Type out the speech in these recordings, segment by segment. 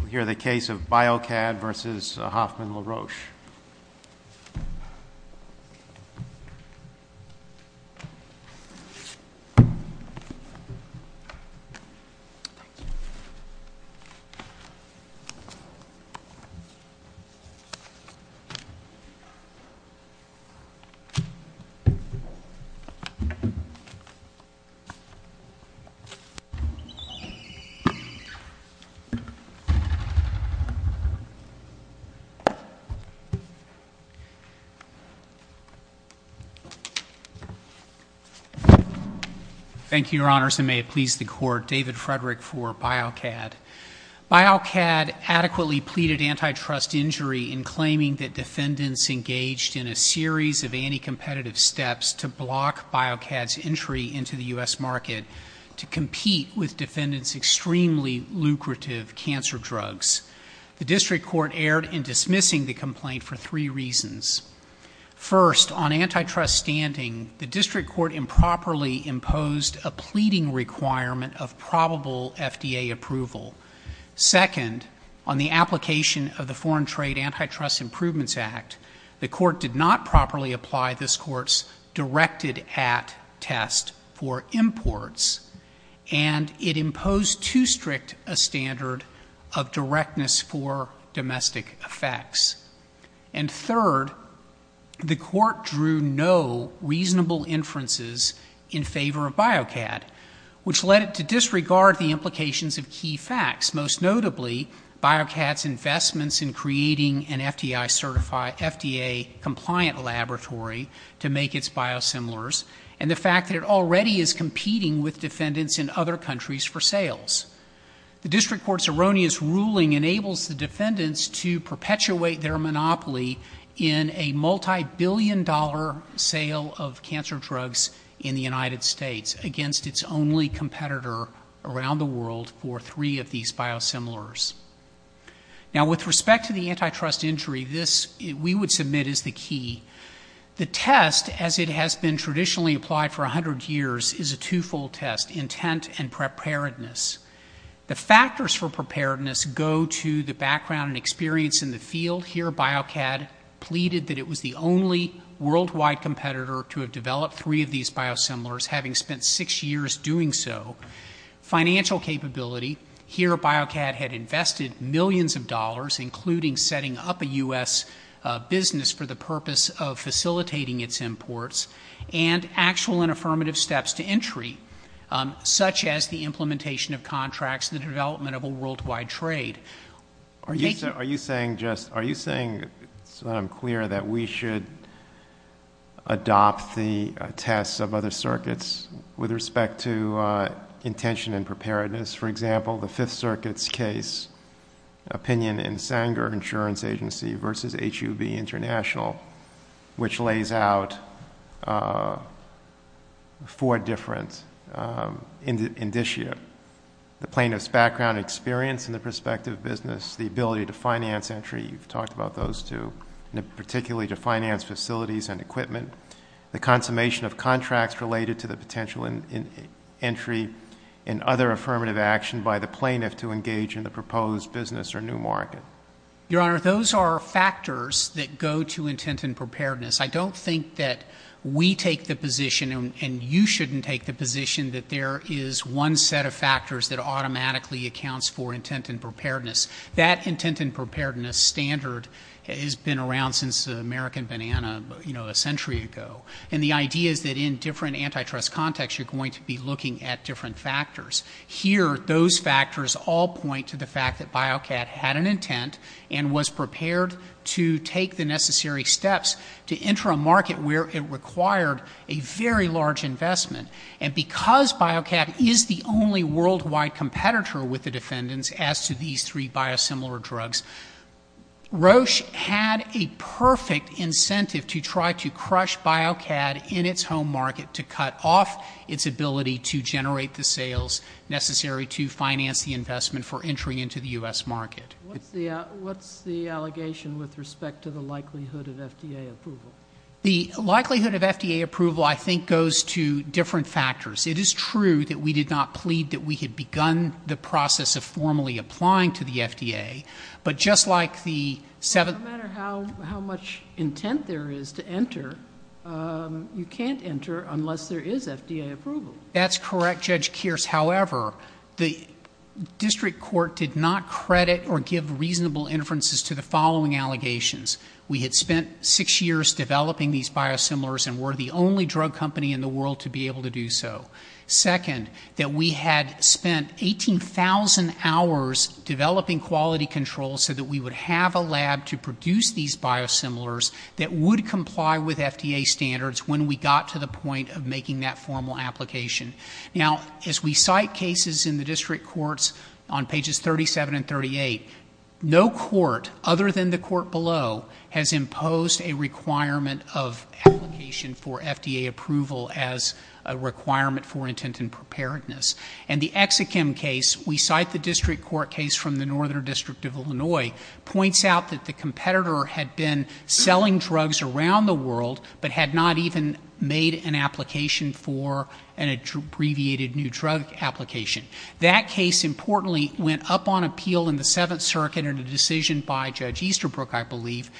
We'll hear the case of Biocad v. Hoffman La Roche. Thank you, Your Honors, and may it please the Court, David Frederick for Biocad. Biocad adequately pleaded antitrust injury in claiming that defendants engaged in a series of anti-competitive steps to block Biocad's entry into the U.S. market to compete with cancer drugs. The District Court erred in dismissing the complaint for three reasons. First, on antitrust standing, the District Court improperly imposed a pleading requirement of probable FDA approval. Second, on the application of the Foreign Trade Antitrust Improvements Act, the Court did not properly apply this Court's directed-at test for imports, and it imposed too strict a standard of directness for domestic effects. And third, the Court drew no reasonable inferences in favor of Biocad, which led it to disregard the implications of key facts, most notably Biocad's investments in creating an FDA-compliant laboratory to make its biosimilars and the fact that it already is competing with defendants in other countries for sales. The District Court's erroneous ruling enables the defendants to perpetuate their monopoly in a multibillion-dollar sale of cancer drugs in the United States against its only competitor around the world for three of these biosimilars. Now with respect to the antitrust injury, this, we would submit, is the key. The test, as it has been traditionally applied for 100 years, is a two-fold test, intent and preparedness. The factors for preparedness go to the background and experience in the field. Here, Biocad pleaded that it was the only worldwide competitor to have developed three of these biosimilars, having spent six years doing so. Financial capability, here Biocad had invested millions of dollars, including setting up a U.S. business for the purpose of facilitating its imports, and actual and affirmative steps to entry, such as the implementation of contracts and the development of a worldwide trade. Are you saying, just, are you saying, so that I'm clear, that we should adopt the tests of other circuits with respect to intention and preparedness? For example, the Fifth Circuit's case, opinion in Sanger Insurance Agency versus HUB International, which lays out four different indicia. The plaintiff's background and experience in the prospective business, the ability to finance entry, you've talked about those two, particularly to finance facilities and equipment, the consummation of contracts related to the potential entry and other affirmative action by the plaintiff to engage in the proposed business or new market. Your Honor, those are factors that go to intent and preparedness. I don't think that we take the position, and you shouldn't take the position, that there is one set of factors that automatically accounts for intent and preparedness. That intent and preparedness standard has been around since the American banana, you know, a century ago. And the idea is that in different ways, those factors all point to the fact that BioCAD had an intent and was prepared to take the necessary steps to enter a market where it required a very large investment. And because BioCAD is the only worldwide competitor with the defendants as to these three biosimilar drugs, Roche had a perfect incentive to try to crush BioCAD in its home market to cut off its ability to generate the sales necessary to finance the investment for entry into the U.S. market. What's the allegation with respect to the likelihood of FDA approval? The likelihood of FDA approval, I think, goes to different factors. It is true that we did not plead that we had begun the process of formally applying to the FDA, but just like the seven No matter how much intent there is to enter, you can't enter unless there is FDA approval. That's correct, Judge Kearse. However, the district court did not credit or give reasonable inferences to the following allegations. We had spent six years developing these biosimilars and were the only drug company in the world to be able to do so. Second, that we had spent 18,000 hours developing quality control so that we would have a lab to produce these biosimilars that would comply with FDA standards when we got to the point of making that formal application. Now, as we cite cases in the district courts on pages 37 and 38, no court other than the court below has imposed a requirement of application for FDA approval as a requirement for intent and preparedness. And the Exakim case, we cite the district court case from the Northern District of Illinois, points out that the competitor had been selling drugs around the world but had not even made an application for an abbreviated new drug application. That case, importantly, went up on appeal in the Seventh Circuit in a decision by Judge Easterbrook, I believe,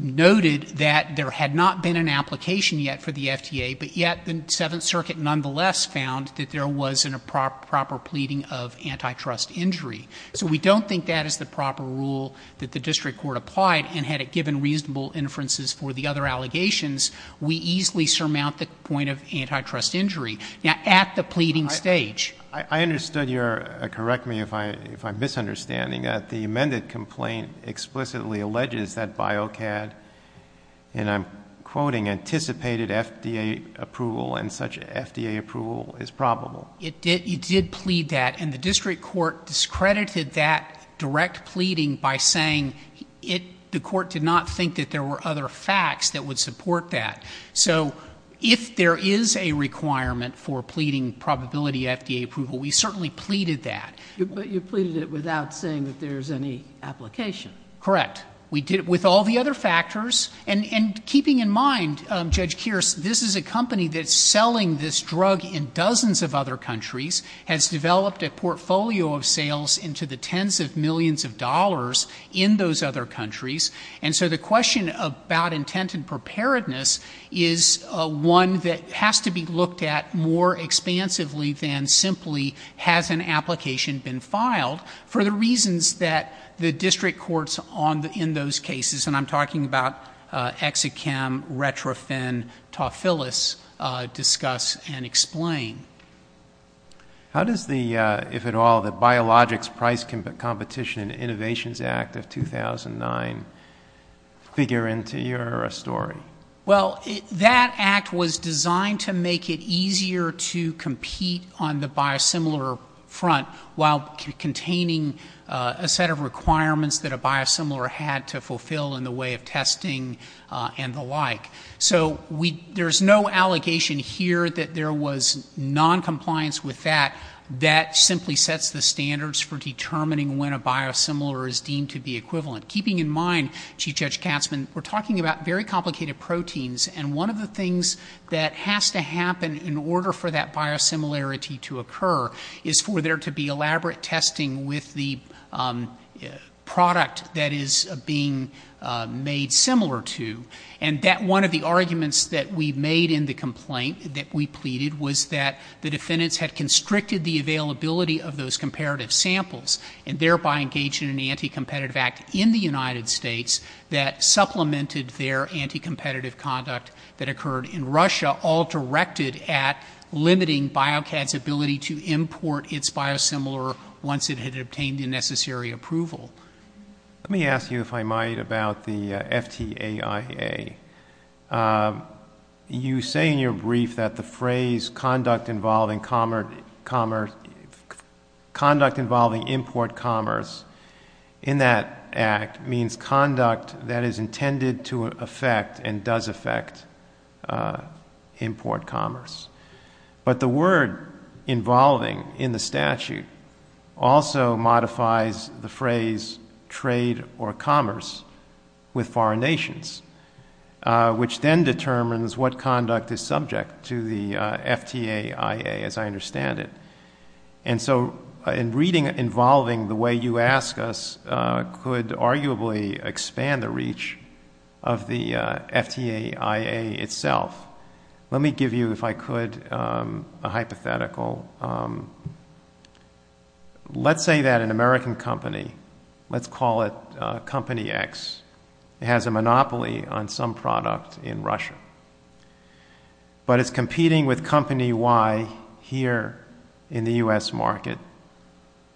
noted that there had not been an application yet for the FDA, but yet the Seventh Circuit nonetheless found that there was a proper pleading of antitrust injury. So we don't think that is the proper rule that the district court applied, and had it given reasonable inferences for the other allegations, we easily surmount the point of antitrust injury. Now, at the pleading stage— I understood your—correct me if I'm misunderstanding. The amended complaint explicitly alleges that BioCAD—and I'm quoting—anticipated FDA approval and such FDA approval is probable. It did plead that, and the district court discredited that direct pleading by saying the court did not think that there were other facts that would support that. So if there is a requirement for pleading probability FDA approval, we certainly pleaded that. But you pleaded it without saying that there's any application. Correct. We did it with all the other factors. And keeping in mind, Judge Kearse, this is a company that's selling this drug in dozens of other countries, has developed a portfolio of sales into the tens of millions of dollars in those other countries, and so the question about intent and preparedness is one that has to be looked at more expansively than simply has an application been filed for the reasons that the district courts in those cases—and I'm talking about ExaChem, RetroPhen, Tofilis—discuss and explain. How does the, if at all, the Biologics Price Competition and Innovations Act of 2009 figure into your story? Well, that act was designed to make it easier to compete on the biosimilar front while containing a set of requirements that a biosimilar had to fulfill in the way of testing and the like. So there's no allegation here that there was noncompliance with that. That simply sets the standards for determining when a biosimilar is deemed to be equivalent. Keeping in mind, Chief Judge Katzman, we're talking about very complicated proteins, and one of the things that has to happen in order for that biosimilarity to occur is for there to be elaborate testing with the product that is being made similar to. And that one of the arguments that we made in the complaint that we pleaded was that the defendants had constricted the availability of those comparative samples and thereby engaged in an anti-competitive act in the United States that supplemented their anti-competitive conduct that occurred in Russia, all directed at limiting BioCAD's ability to import its biosimilar once it had obtained the necessary approval. Let me ask you, if I might, about the FTAIA. You say in your brief that the phrase conduct involving commerce, conduct involving import commerce in that act means conduct involving conduct that is intended to affect and does affect import commerce. But the word involving in the statute also modifies the phrase trade or commerce with foreign nations, which then determines what conduct is subject to the FTAIA, as I understand it. And so in reading involving the way you ask us could arguably expand the reach of the FTAIA itself. Let me give you, if I could, a hypothetical. Let's say that an American company, let's call it company X, has a monopoly on some product in Russia. But it's competing with company Y here in the U.S. market.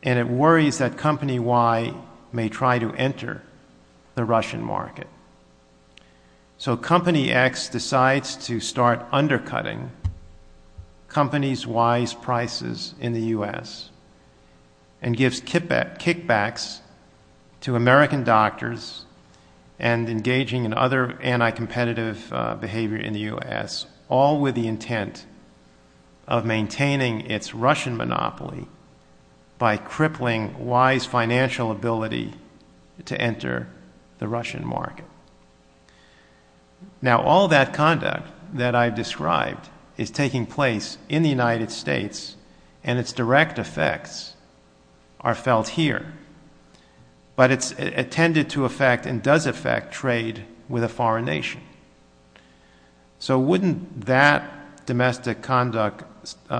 And it worries that company Y may try to enter the Russian market. So company X decides to start undercutting company Y's prices in the U.S. and gives kickbacks to American doctors and engaging in other anti-competitive behavior in the U.S., all with the intent of maintaining its Russian monopoly by crippling Y's financial ability to enter the Russian market. Now all that conduct that I've described is taking place in the United States and its direct effects are felt here. But it's intended to affect and does affect trade with a foreign nation. So wouldn't that domestic conduct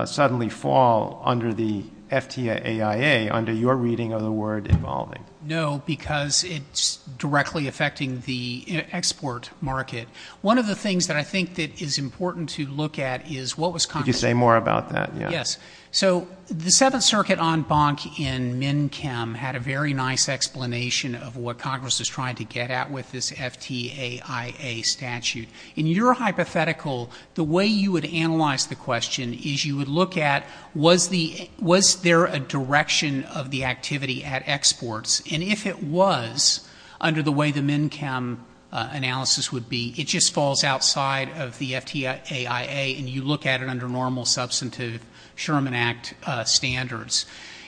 suddenly fall under the FTAIA, under your reading of the word involving? No, because it's directly affecting the export market. One of the things that I think that is important to look at is what was Congress... Could you say more about that? Yes. So the Seventh Circuit en banc in Minchem had a very nice explanation of what Congress was trying to get at with this FTAIA statute. In your hypothetical, the way you would analyze the question is you would look at was there a direction of the activity at exports? And if it was, under the way the Minchem analysis would be, it just falls outside of the FTAIA and you look at it under normal substantive Sherman Act standards.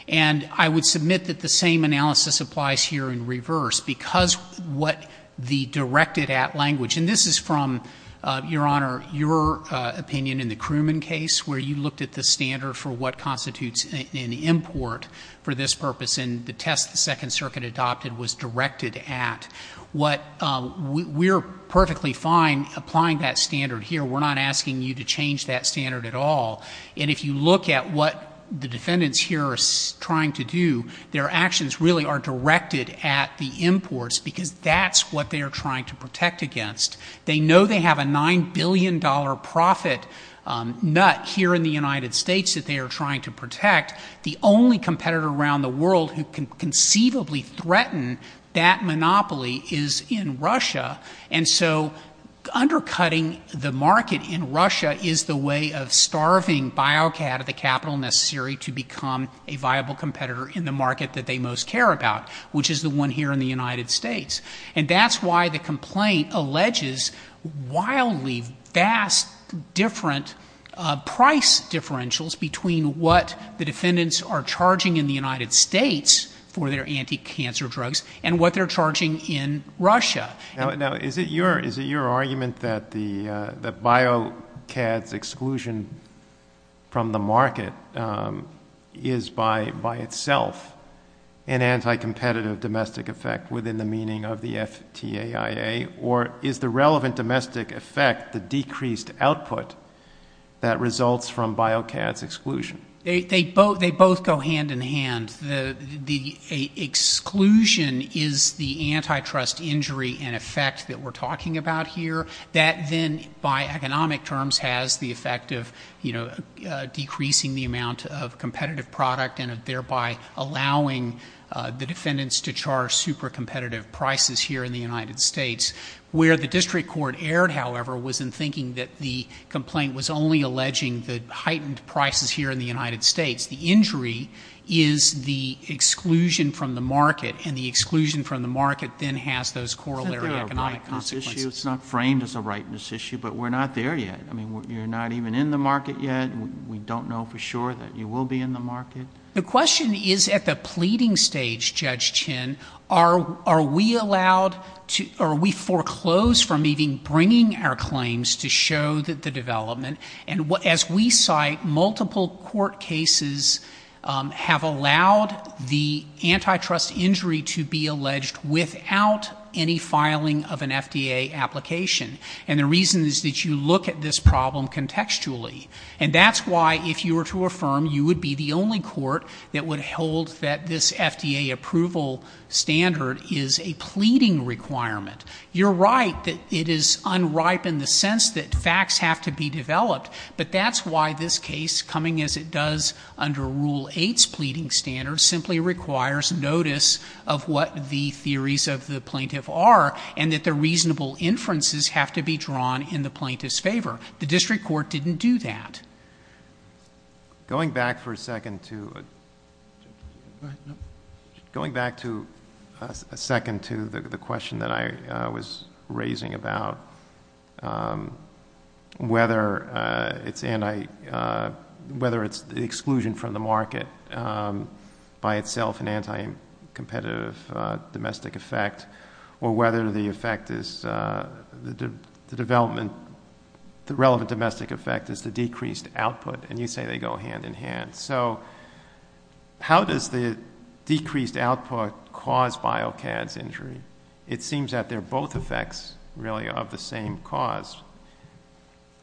And I would submit that the same analysis applies here in reverse because what the directed at language, and this is from, Your Honor, your opinion in the Crewman case where you looked at the standard for what constitutes an import for this purpose and the test the Second Circuit adopted was directed at. We're perfectly fine applying that standard here. We're not asking you to change that standard at all. And if you look at what the defendants here are trying to do, their actions really are directed at the imports because that's what they are trying to protect against. They know they have a $9 billion profit nut here in the United States that they are trying to protect. The only competitor around the world who can conceivably threaten that monopoly is in Russia. And so undercutting the market in Russia is the way of starving Biocad at the capital necessary to become a viable competitor in the market that they most care about, which is the one here in the United States. And that's why the complaint alleges wildly vast different price differentials between what the defendants are charging in the United States for their anti-cancer drugs and what they are charging in Russia. Is it your argument that the Biocad's exclusion from the market is by itself an anti-competitive domestic effect within the meaning of the FTAIA or is the relevant domestic effect the decreased output that results from Biocad's exclusion? They both go hand in hand. The exclusion is the antitrust injury and effect that we are talking about here. That then by economic terms has the effect of decreasing the amount of competitive product and thereby allowing the defendants to charge super competitive prices here in the United States. Where the district court erred, however, was in thinking that the complaint was only alleging the heightened prices here in the United States. The injury is the exclusion from the market and the exclusion from the market then has those corollary economic consequences. Isn't that a rightness issue? It's not framed as a rightness issue, but we're not there yet. I mean, you're not even in the market yet. We don't know for sure that you will be in the market. The question is at the pleading stage, Judge Chin, are we allowed to, are we foreclosed from even bringing our claims to show that the development and as we cite, multiple court cases have allowed the antitrust injury to be alleged without any filing of an FDA application. And the reason is that you look at this problem contextually. And that's why if you were to affirm you would be the only court that would hold that this FDA approval standard is a it is unripe in the sense that facts have to be developed. But that's why this case coming as it does under Rule 8's pleading standards simply requires notice of what the theories of the plaintiff are and that the reasonable inferences have to be drawn in the plaintiff's favor. The district court didn't do that. Going back for a second to, going back to a second to the question that I was raising about whether it's exclusion from the market by itself an anti-competitive domestic effect or whether the effect is the development, the relevant domestic effect is the decreased output. And you say they go hand in hand. So how does the decreased output cause BioCADS exclusion? It seems that they're both effects really of the same cause.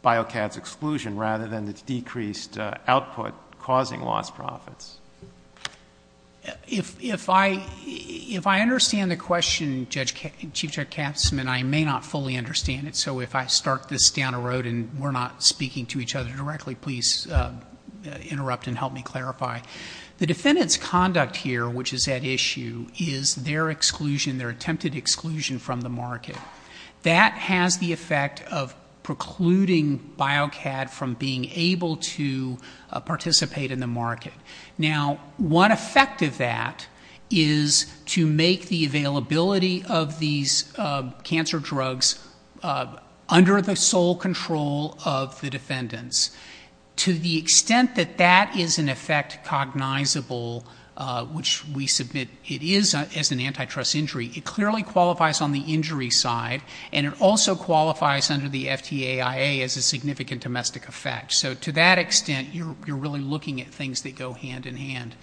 BioCADS exclusion rather than the decreased output causing lost profits. If I understand the question, Chief Judge Katzman, I may not fully understand it. So if I start this down a road and we're not speaking to each other directly, please interrupt and help me clarify. The defendant's conduct here which is at issue is their exclusion, their attempted exclusion from the market. That has the effect of precluding BioCADS from being able to participate in the market. Now one effect of that is to make the availability of these cancer drugs under the sole control of the defendants. To the extent that that is an effect cognizable which we submit it is as an antitrust injury, it clearly qualifies on the injury side and it also qualifies under the FTAIA as a significant domestic effect. So to that extent you're really looking at things that go hand in hand.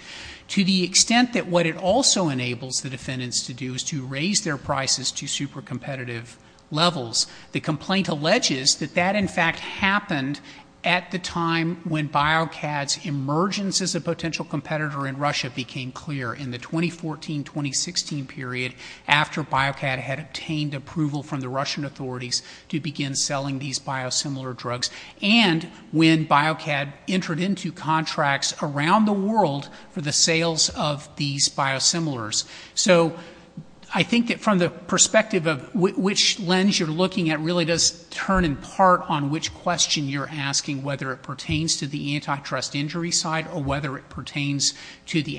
To the extent that what it also enables the defendants to do is to raise their prices to super competitive levels, the complaint alleges that that in fact happened at the time when BioCADS emerged as a potential competitor in Russia became clear in the 2014-2016 period after BioCAD had obtained approval from the Russian authorities to begin selling these biosimilar drugs and when BioCAD entered into contracts around the world for the sales of these biosimilars. So I think that from the perspective of which lens you're looking at really does turn in to whether it pertains to the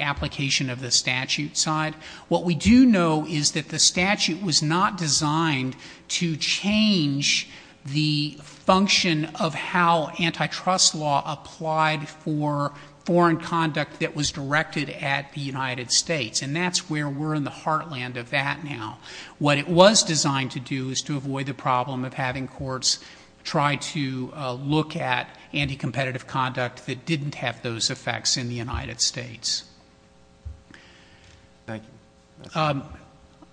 application of the statute side. What we do know is that the statute was not designed to change the function of how antitrust law applied for foreign conduct that was directed at the United States and that's where we're in the heartland of that now. What it was designed to do is to avoid the problem of having courts try to look at anti-competitive conduct that didn't have those effects in the United States. Thank you.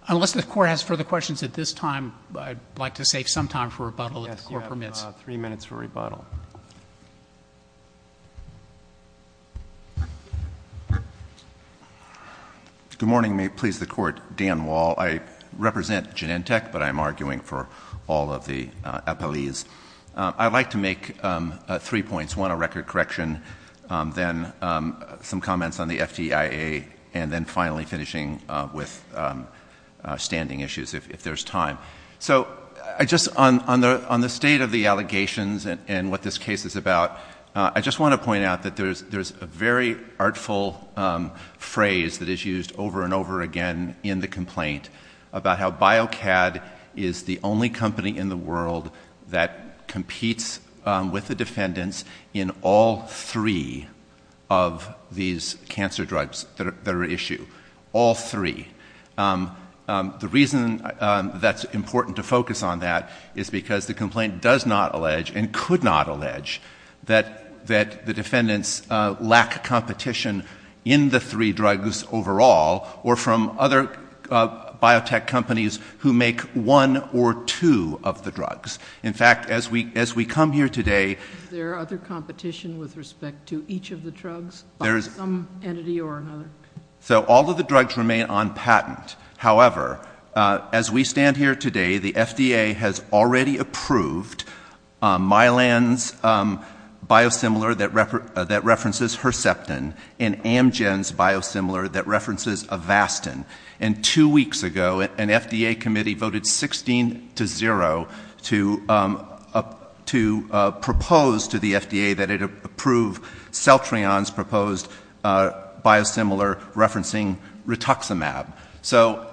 Unless the court has further questions at this time I'd like to save some time for rebuttal if the court permits. Yes, you have three minutes for rebuttal. Good morning. May it please the court. Dan Wall. I represent Genentech but I'm arguing for all of the appellees. I'd like to make three points. One, a record correction. Then some comments on the FDIA and then finally finishing with standing issues if there's time. So on the state of the allegations and what this case is about, I just want to point out that there's a very artful phrase that is used over and over again in the complaint about how BioCAD is the only company in the world that competes with the defendants in all three of these cancer drugs that are at issue. All three. The reason that's important to focus on that is because the complaint does not allege and could not allege that the defendants lack competition in the three drugs overall or from other biotech companies who make one or two of the drugs. In fact, as we come here today Is there other competition with respect to each of the drugs by some entity or another? So all of the drugs remain on patent. However, as we stand here today, the FDA has already approved Mylan's biosimilar that references Herceptin and Amgen's biosimilar that references Avastin. And two weeks ago, an FDA committee voted 16 to 0 to propose to the FDA that it approve Celtrion's proposed biosimilar referencing Rituximab. So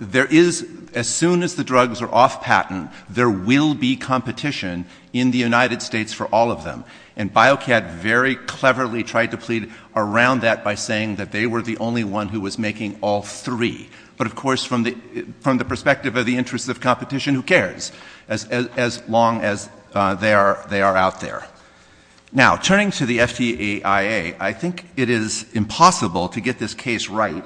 there is, as soon as the drugs are off patent, there will be competition in the United States for all of them. And BioCAD very cleverly tried to plead around that by saying that they were the only one who was making all three. But of course, from the perspective of the interests of competition, who cares? As long as they are out there. Now, turning to the FDAIA, I think it is impossible to get this case right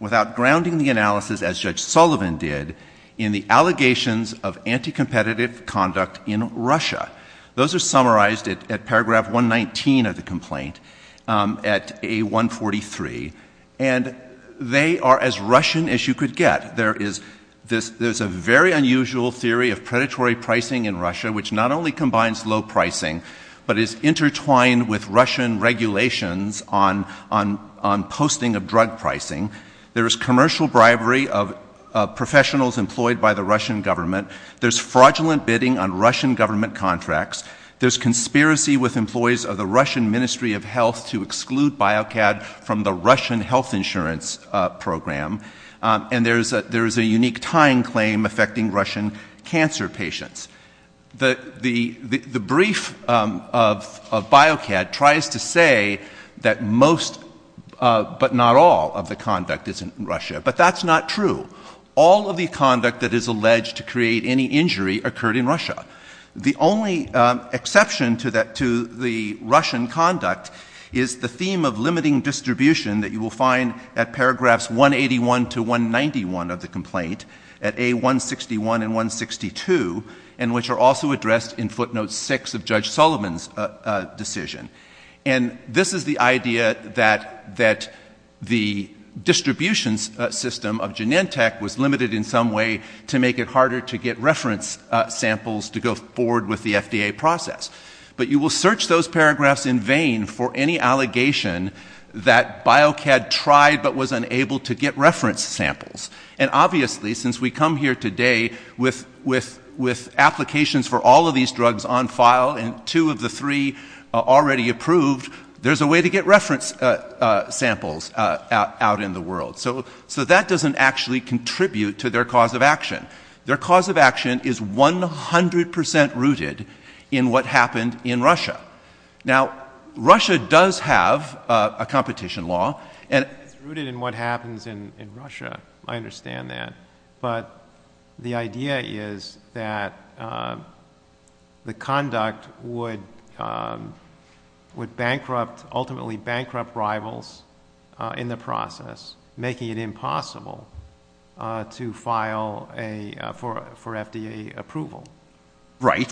without grounding the analysis, as Judge Sullivan did, in the allegations of anti-competitive conduct in Russia. Those are summarized at paragraph 119 of the complaint, at A143. And they are as Russian as you could get. There is a very unusual theory of predatory pricing in Russia, which not only combines low pricing, but is intertwined with Russian regulations on posting of drug pricing. There is commercial bribery of professionals employed by the Russian government. There is fraudulent bidding on Russian government contracts. There is conspiracy with employees of the Russian Ministry of Health to exclude BioCAD from the Russian health insurance program. And there is a unique tying claim affecting Russian cancer patients. The brief of BioCAD tries to say that most, but not all, of the conduct is in Russia. But that's not true. All of the conduct that is alleged to create any injury occurred in Russia. The only exception to the Russian conduct is the theme of limiting distribution that you will find at paragraphs 181 to 191 of the complaint, at A161 and 162. And which are also addressed in footnote 6 of Judge Sullivan's decision. And this is the idea that the distribution system of Genentech was limited in some way to make it harder to get reference samples to go forward with the FDA process. But you will search those paragraphs in vain for any allegation that BioCAD tried, but was unable to get reference samples. And obviously, since we come here today with applications for all of these drugs on file and two of the three already approved, there's a way to get reference samples out in the world. So that doesn't actually contribute to their cause of action. Their cause of action is 100% rooted in what happened in Russia. Now, Russia does have a competition law. It's rooted in what happens in Russia. I understand that. But the idea is that the conduct would bankrupt, ultimately bankrupt rivals in the process, making it impossible to file for FDA approval. Right.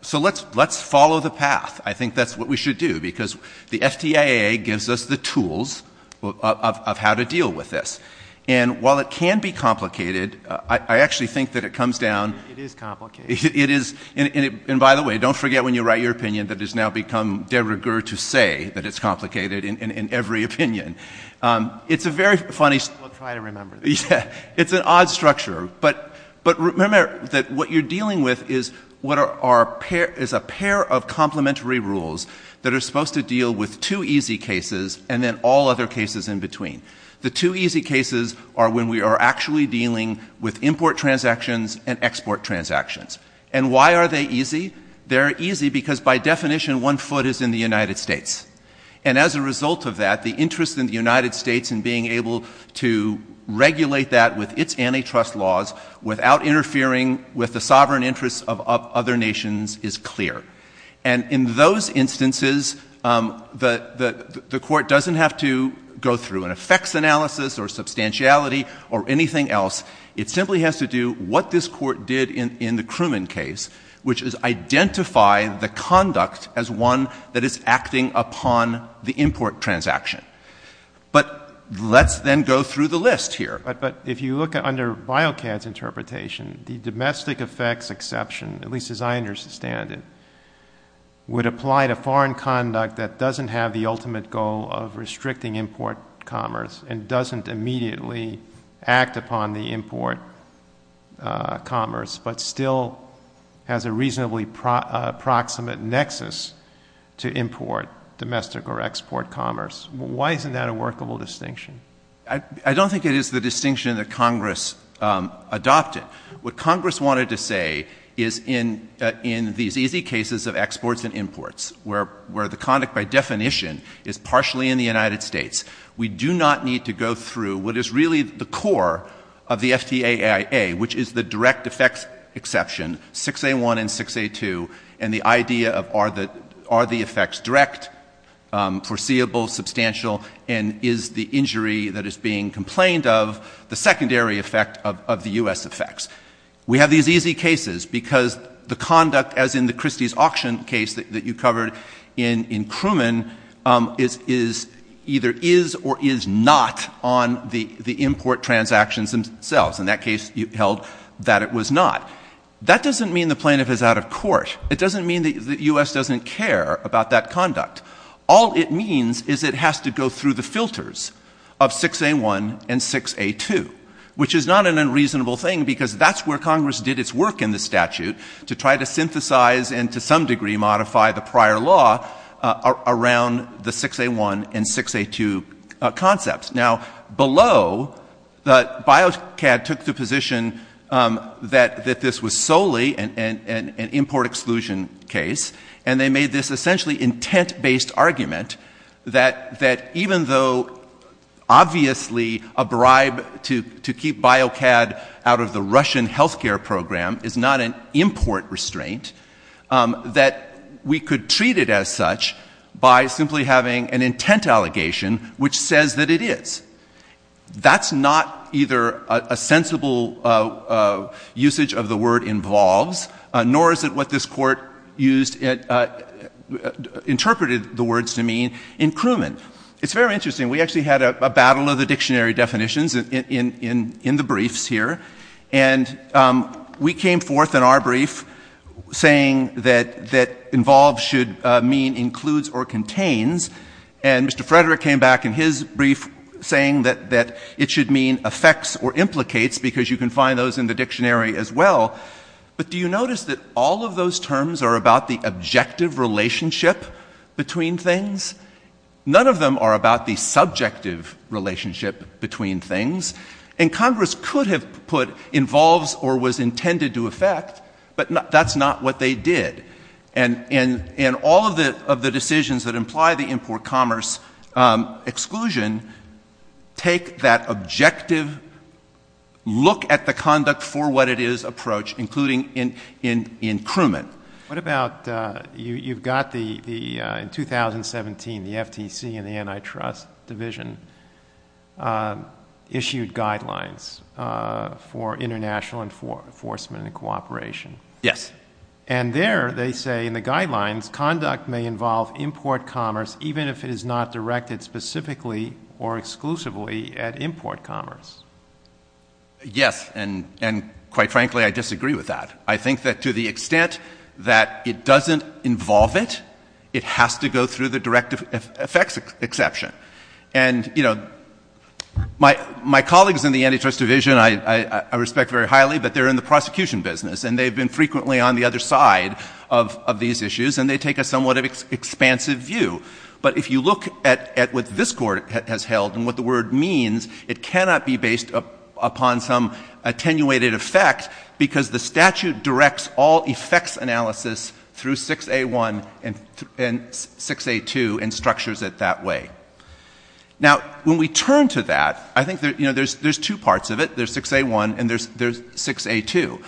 So let's follow the path. I think that's what we should do. Because the FDA gives us the tools of how to deal with this. And while it can be complicated, I actually think that it comes down... It is complicated. It is. And by the way, don't forget when you write your opinion that it's now become de rigueur to say that it's complicated in every opinion. It's a very funny... We'll try to remember that. It's an odd structure. But remember that what you're dealing with is a pair of complementary rules that are supposed to deal with two easy cases and then all other cases in between. The two easy cases are when we are actually dealing with import transactions and export transactions. And why are they easy? They're easy because by definition, one foot is in the United States. And as a result of that, the interest in the United States in being able to regulate that with its antitrust laws without interfering with the sovereign interests of other nations is clear. And in those instances, the Court doesn't have to go through an effects analysis or substantiality or anything else. It simply has to do what this Court did in the Cruman case, which is identify the conduct as one that is acting upon the import transaction. But let's then go through the list here. But if you look under BioCAD's interpretation, the domestic effects exception, at least as I understand it, would apply to foreign conduct that doesn't have the ultimate goal of restricting import commerce and doesn't immediately act upon the import commerce, but still has a reasonably proximate nexus to import, domestic, or export commerce. Why isn't that a workable distinction? I don't think it is the distinction that Congress adopted. What Congress wanted to say is in these easy cases of exports and imports, where the conduct by definition is partially in the United States, we do not need to go through what is really the core of the FTAIA, which is the direct effects exception, 6A1 and 6A2, and the idea of are the effects direct, foreseeable, substantial, and is the injury that is being complained of the secondary effect of the U.S. effects. We have these easy cases because the conduct, as in the Christie's auction case that you covered in Cruman, is either is or is not on the import transactions themselves. In that case, you held that it was not. That doesn't mean the plaintiff is out of court. It doesn't mean the U.S. doesn't care about that conduct. All it means is it has to go through the filters of 6A1 and 6A2, which is not an unreasonable thing because that's where Congress did its work in the statute to try to synthesize and to some degree modify the prior law around the 6A1 and 6A2 concepts. Now, below, BioCAD took the position that this was solely an import exclusion case, and they made this essentially intent-based argument that even though obviously a bribe to keep BioCAD out of the Russian health care program is not an import restraint, that we could treat it as such by simply having an intent allegation which says that it is. That's not either a sensible usage or a reasonable usage of the word involves, nor is it what this Court used, interpreted the words to mean in Cruman. It's very interesting. We actually had a battle of the dictionary definitions in the briefs here, and we came forth in our brief saying that involves should mean includes or contains, and Mr. Frederick came back in his brief saying that it should mean affects or implicates, because you can find those in the dictionary as well. But do you notice that all of those terms are about the objective relationship between things? None of them are about the subjective relationship between things. And Congress could have put involves or was intended to affect, but that's not what they did. And all of the decisions that look at the conduct for what it is approach, including in Cruman. What about, you've got the, in 2017, the FTC and the antitrust division issued guidelines for international enforcement and cooperation. Yes. And there they say in the guidelines, conduct may involve import commerce even if it is not directed specifically or exclusively at import commerce. Yes. And quite frankly, I disagree with that. I think that to the extent that it doesn't involve it, it has to go through the directive effects exception. And, you know, my colleagues in the antitrust division, I respect very highly, but they're in the prosecution business and they've been frequently on the other side of these issues, and they take a somewhat expansive view. But if you look at what this Court has held and what the word means, it cannot be based upon some attenuated effect because the statute directs all effects analysis through 6A1 and 6A2 and structures it that way. Now when we turn to that, I think there's two parts of it. There's 6A1 and there's 6A2.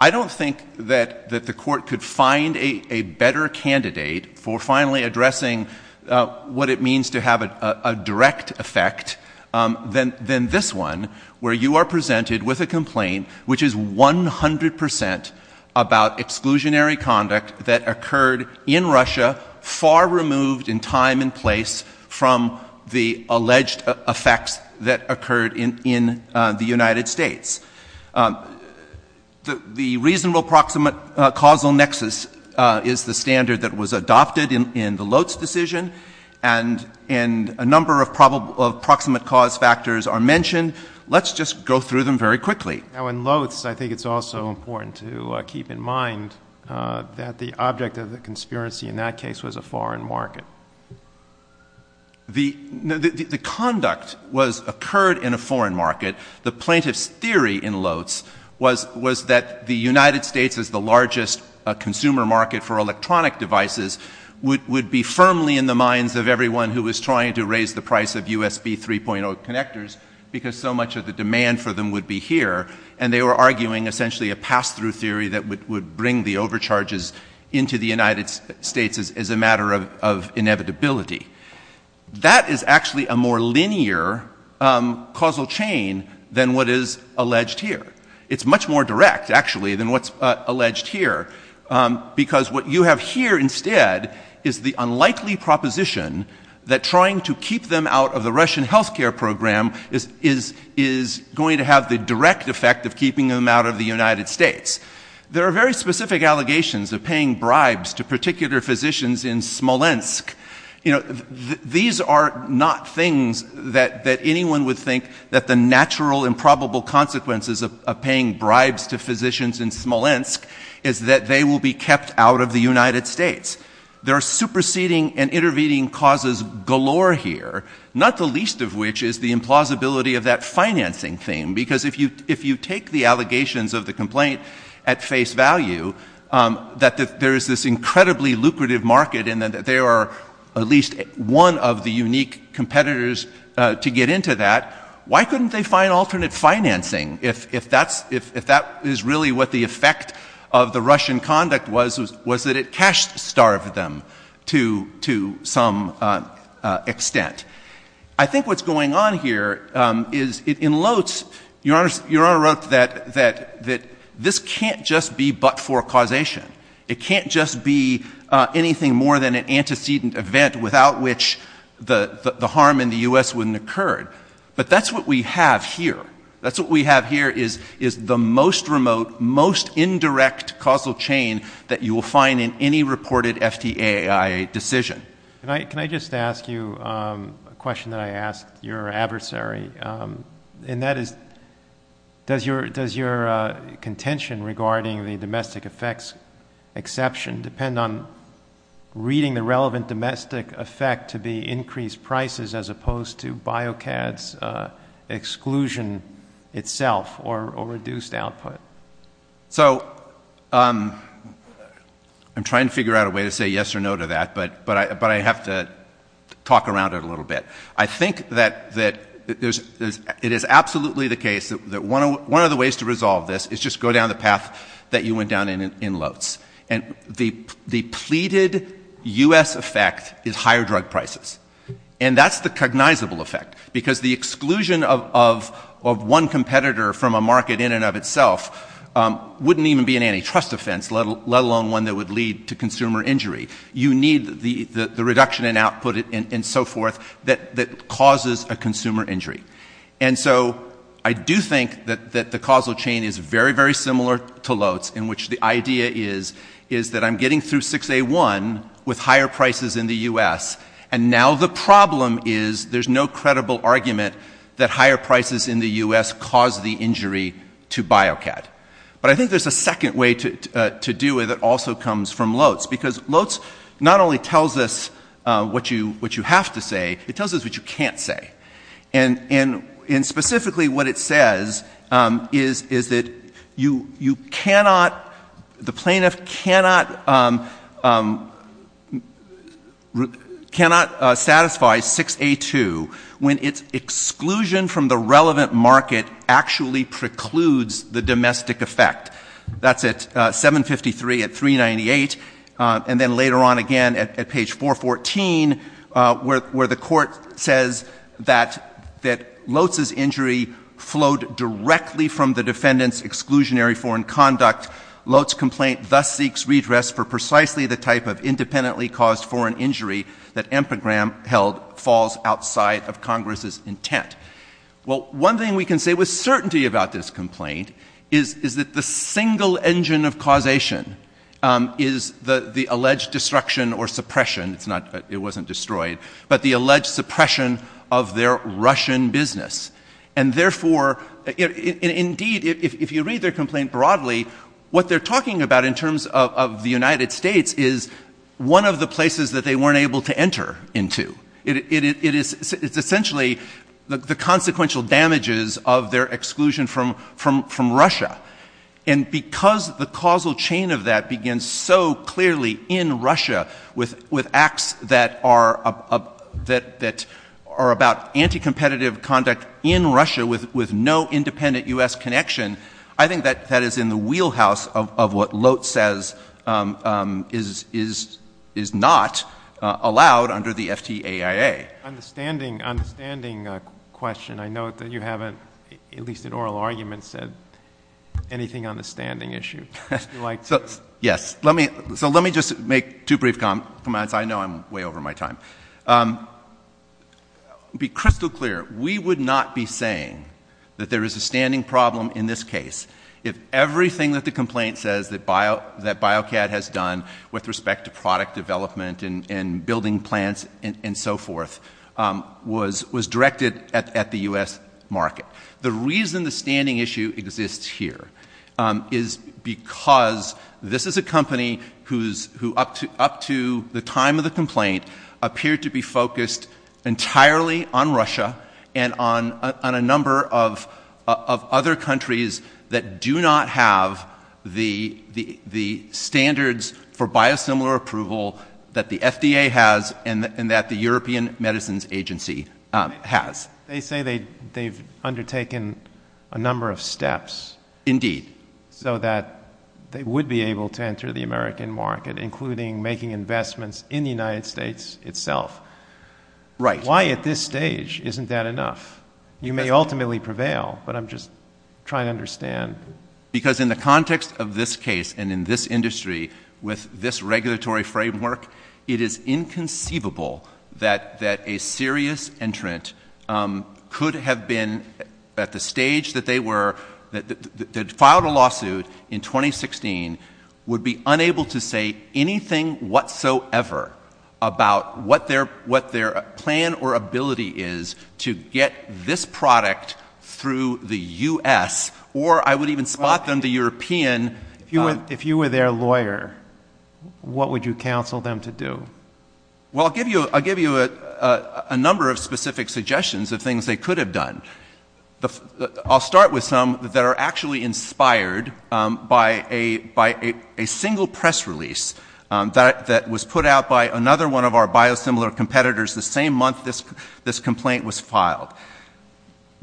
I don't think that the Court could find a better candidate for finally addressing what it means to have a direct effect than this one, where you are presented with a complaint which is 100 percent about exclusionary conduct that occurred in Russia, far removed in time and place from the alleged effects that occurred in the United States. The reasonable proximate causal nexus is the standard that was adopted in the Loetz decision, and a number of proximate cause factors are mentioned. Let's just go through them very quickly. Now in Loetz, I think it's also important to keep in mind that the object of the conspiracy in that case was a foreign market. The conduct occurred in a foreign market. The plaintiff's theory in Loetz was that the United States is the largest consumer market for electronic devices, would be firmly in the minds of everyone who was trying to raise the price of USB 3.0 connectors because so much of the demand for them would be here, and they were arguing essentially a pass-through theory that would bring the overcharges into the United States as a matter of inevitability. That is actually a more linear causal chain than what is alleged here. It's much more direct actually than what's alleged here, because what you have here instead is the unlikely proposition that trying to keep them out of the Russian healthcare program is going to have the direct effect of keeping them out of the United States. There are very specific allegations of paying bribes to particular physicians in Smolensk. These are not things that anyone would think that the natural and probable consequences of paying bribes to physicians in Smolensk is that they will be kept out of the United States. There are superseding and intervening causes galore here, not the least of which is the implausibility of that financing thing, because if you take the allegations of the complaint at face value, that there is this incredibly lucrative market and that they are at least one of the unique competitors to get into that, why couldn't they find alternate financing if that is really what the effect of the Russian conduct was, was that it cash-starved them to some extent? I think what's going on here is it elotes, Your Honor wrote that this can't just be but-for-causation. It can't just be anything more than an antecedent event without which the harm in the U.S. wouldn't occur. But that's what we have here. That's what we have here is the most remote, most indirect causal chain that you will find in any reported FDAAI decision. Can I just ask you a question that I asked your adversary? And that is, does your contention regarding the domestic effects exception depend on reading the relevant domestic effect to be increased prices as opposed to BioCAD's exclusion itself or reduced output? So I'm trying to figure out a way to say yes or no to that, but I have to talk around it a little bit. I think that it is absolutely the case that one of the ways to resolve this is just go down the path that you went down in elotes. And the pleaded U.S. effect is higher drug prices. And that's the cognizable effect because the exclusion of one competitor from a market in and of itself wouldn't even be an antitrust offense, let alone one that would lead to consumer injury. You need the reduction in output and so forth that causes a consumer injury. And so I do think that the causal chain is very, very similar to elotes in which the idea is that I'm getting through 6A1 with higher prices in the U.S. and now the problem is there's no credible argument that higher prices in the U.S. cause the injury to BioCAD. But I think there's a second way to do it that also comes from elotes, because elotes not only tells us what you have to say, it tells us what you can't say. And specifically what it says is that you cannot, the plaintiff cannot satisfy 6A2 when its exclusion from the relevant market actually precludes the domestic effect. That's at 753 at 398, and then later on again at page 414 where the Court says that elotes' injury flowed directly from the defendant's exclusionary foreign conduct. Elotes' complaint thus seeks redress for precisely the type of independently-caused foreign injury that Ampagram held falls outside of Congress's intent. Well, one thing we can say with certainty about this complaint is that the single engine of causation is the alleged destruction or suppression, it wasn't destroyed, but the alleged suppression of their Russian business. And therefore, indeed, if you read their complaint broadly, what they're talking about in terms of the United States is one of the places that they weren't able to enter into. It is essentially the consequential damages of their exclusion from Russia. And because the causal chain of that begins so clearly in Russia with acts that are about anti-competitive conduct in Russia with no independent U.S. connection, I think that that is in the wheelhouse of what LOTE says is not allowed under the FTAIA. MR. KNEEDLER. Understanding, understanding question. I note that you haven't, at least in oral arguments, said anything on the standing issue. Would you like to? MR. STEINWALD. Yes. Let me just make two brief comments. I know I'm way over my time. To be crystal clear, we would not be saying that there is a standing problem in this case if everything that the complaint says that BioCAD has done with respect to product development and building plants and so forth was directed at the U.S. market. The reason the standing issue exists here is because this is a company who, up to the time of the complaint, appears to be focused entirely on Russia and on a number of other countries that do not have the standards for biosimilar approval that the FDA has and that the European Medicines MR. KNEEDLER. They say they've undertaken a number of steps so that they would be able to enter the American market, including making investments in the United States itself. MR. STEINWALD. Right. MR. KNEEDLER. Why at this stage isn't that enough? You may ultimately prevail, but I'm just trying to understand. MR. STEINWALD. Because in the context of this case and in this industry with this regulatory framework, it is inconceivable that a serious entrant could have been at the stage that they were, that filed a lawsuit in 2016, would be unable to say anything whatsoever about what their plan or ability is to get this product through the U.S. or I would even spot them, the European. MR. KNEEDLER. If you were their lawyer, what would you counsel them to do? MR. STEINWALD. Well, I'll give you a number of specific suggestions of things they could have done. I'll start with some that are actually inspired by a single press release that was put out by another one of our biosimilar competitors the same month this complaint was filed.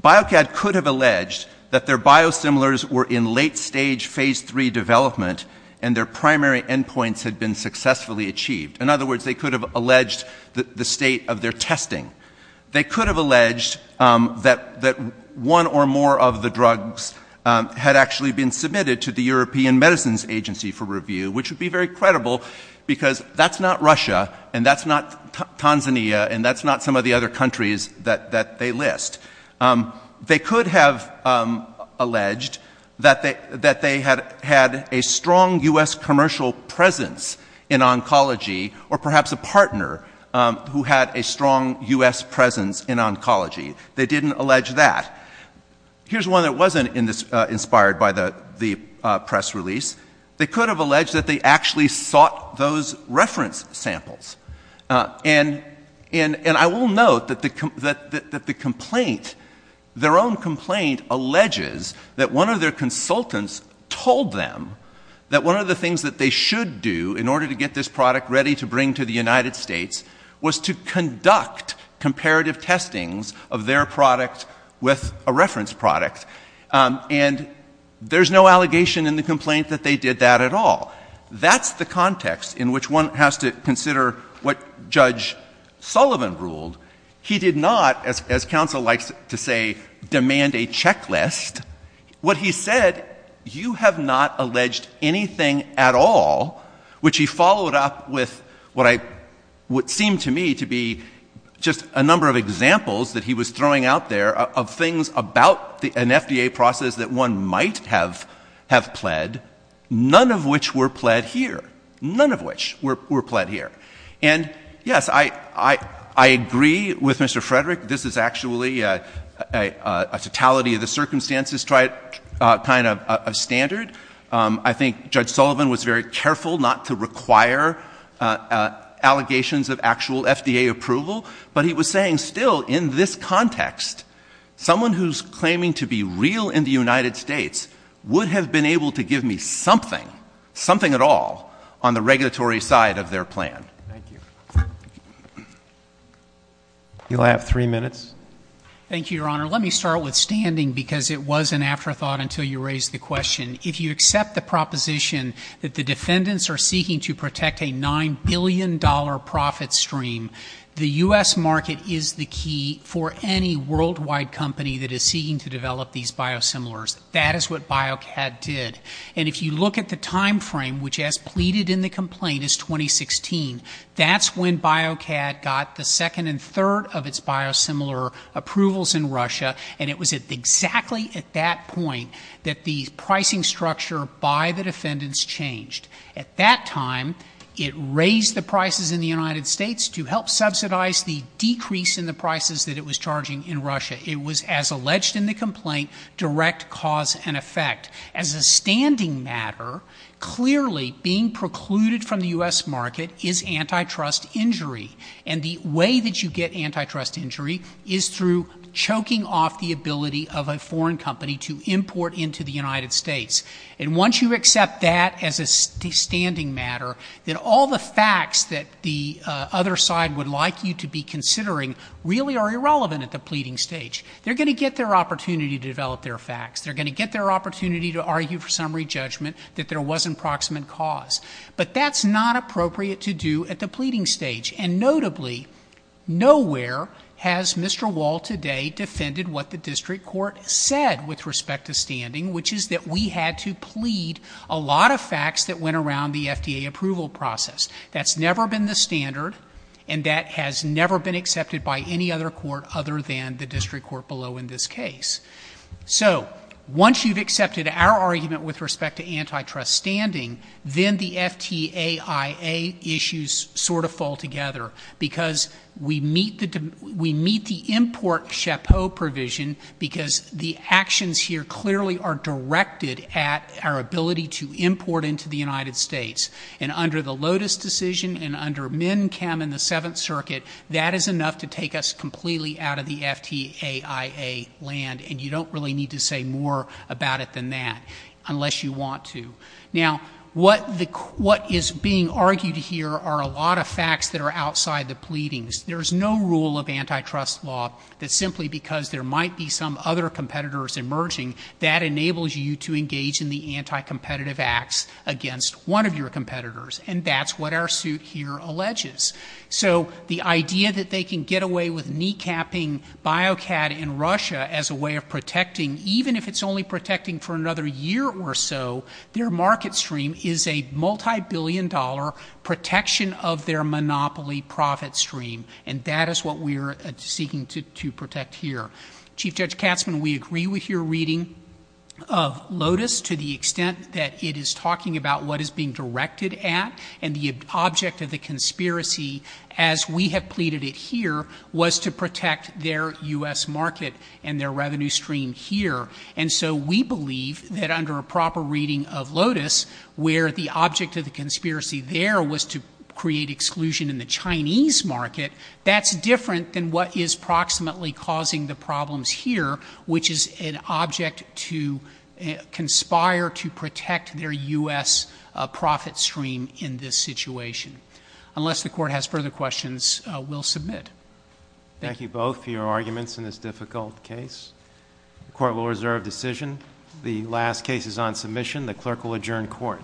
BioCAD could have alleged that their biosimilars were in late-stage phase 3 development and their primary endpoints had been successfully achieved. In other words, they could have alleged the state of their testing. They could have alleged that one or more of the drugs had actually been submitted to the European Medicines Agency for review, which would be very credible because that's not Russia and that's not Tanzania and that's not some of the other countries that they list. They could have alleged that they had a strong U.S. commercial presence in oncology or perhaps a partner who had a strong U.S. presence in oncology. They didn't allege that. Here's one that wasn't inspired by the press release. They could have alleged that they actually sought those reference samples. And I will note that the complaint, their own complaint, alleges that one of their consultants told them that one of the things that they should do in order to get this product ready to bring to the United States was to conduct comparative testings of their product with a reference product. And there's no allegation in the complaint that they did that at all. That's the context in which one has to consider what Judge Sullivan ruled. He did not, as what he said, you have not alleged anything at all, which he followed up with what seemed to me to be just a number of examples that he was throwing out there of things about an FDA process that one might have pled, none of which were pled here. None of which were pled here. And yes, I agree with Mr. Frederick. This is actually a totality of the circumstances to try it kind of a standard. I think Judge Sullivan was very careful not to require allegations of actual FDA approval, but he was saying still in this context, someone who's claiming to be real in the United States would have been able to give me something, something at all on the regulatory side of their plan. Thank you. You'll have three minutes. Thank you, Your Honor. Let me start with standing because it was an afterthought until you raised the question. If you accept the proposition that the defendants are seeking to protect a $9 billion profit stream, the U.S. market is the key for any worldwide company that is seeking to develop these biosimilars. That is what BioCAD did. And if you look at the timeframe, which as pleaded in the complaint is 2016, that's when BioCAD got the second and third of its biosimilar approvals in Russia. And it was at exactly at that point that the pricing structure by the defendants changed. At that time, it raised the prices in the United States to help subsidize the decrease in the prices that it was charging in Russia. It was as alleged in the complaint, direct cause and effect. As a standing matter, clearly being precluded from the U.S. market is antitrust injury. And the way that you get antitrust injury is through choking off the ability of a foreign company to import into the United States. And once you accept that as a standing matter, then all the facts that the other side would like you to be considering really are irrelevant at the pleading stage. They're going to get their opportunity to develop their facts. They're going to get their opportunity to argue for summary judgment that there was an approximate cause. But that's not appropriate to do at the pleading stage. And notably, nowhere has Mr. Wall today defended what the district court said with respect to standing, which is that we had to plead a lot of facts that went around the FDA approval process. That's never been the standard and that has never been accepted by any other court other than the district court below in this case. So once you've accepted our argument with respect to antitrust standing, then the FTAIA issues sort of fall together because we meet the import chapeau provision because the actions here clearly are directed at our ability to import into the United States. And under the Lotus decision and under MNCAM in the Seventh Circuit, that is enough to take us completely out of the FTAIA land. And you don't really need to say more about it than that unless you want to. Now what is being argued here are a lot of facts that are outside the pleadings. There's no rule of antitrust law that simply because there might be some other competitors emerging, that enables you to engage in the anti-competitive acts against one of your competitors. And that's what our suit here alleges. So the idea that they can get away with kneecapping BioCAD in Russia as a way of protecting, even if it's only protecting for another year or so, their market stream is a multi-billion dollar protection of their monopoly profit stream. And that is what we are seeking to protect here. Chief Judge Katzman, we agree with your reading of Lotus to the extent that it is talking about what is being directed at. And the object of the conspiracy, as we have pleaded it here, was to protect their U.S. market and their revenue stream here. And so we believe that under a proper reading of Lotus, where the object of the conspiracy there was to create exclusion in the Chinese market, that's different than what is proximately causing the problems here, which is an object to conspire to protect their U.S. profit stream in this situation. Unless the court has further questions, we'll submit. Thank you both for your arguments in this difficult case. The court will reserve decision. The last case is on submission. The clerk will adjourn court.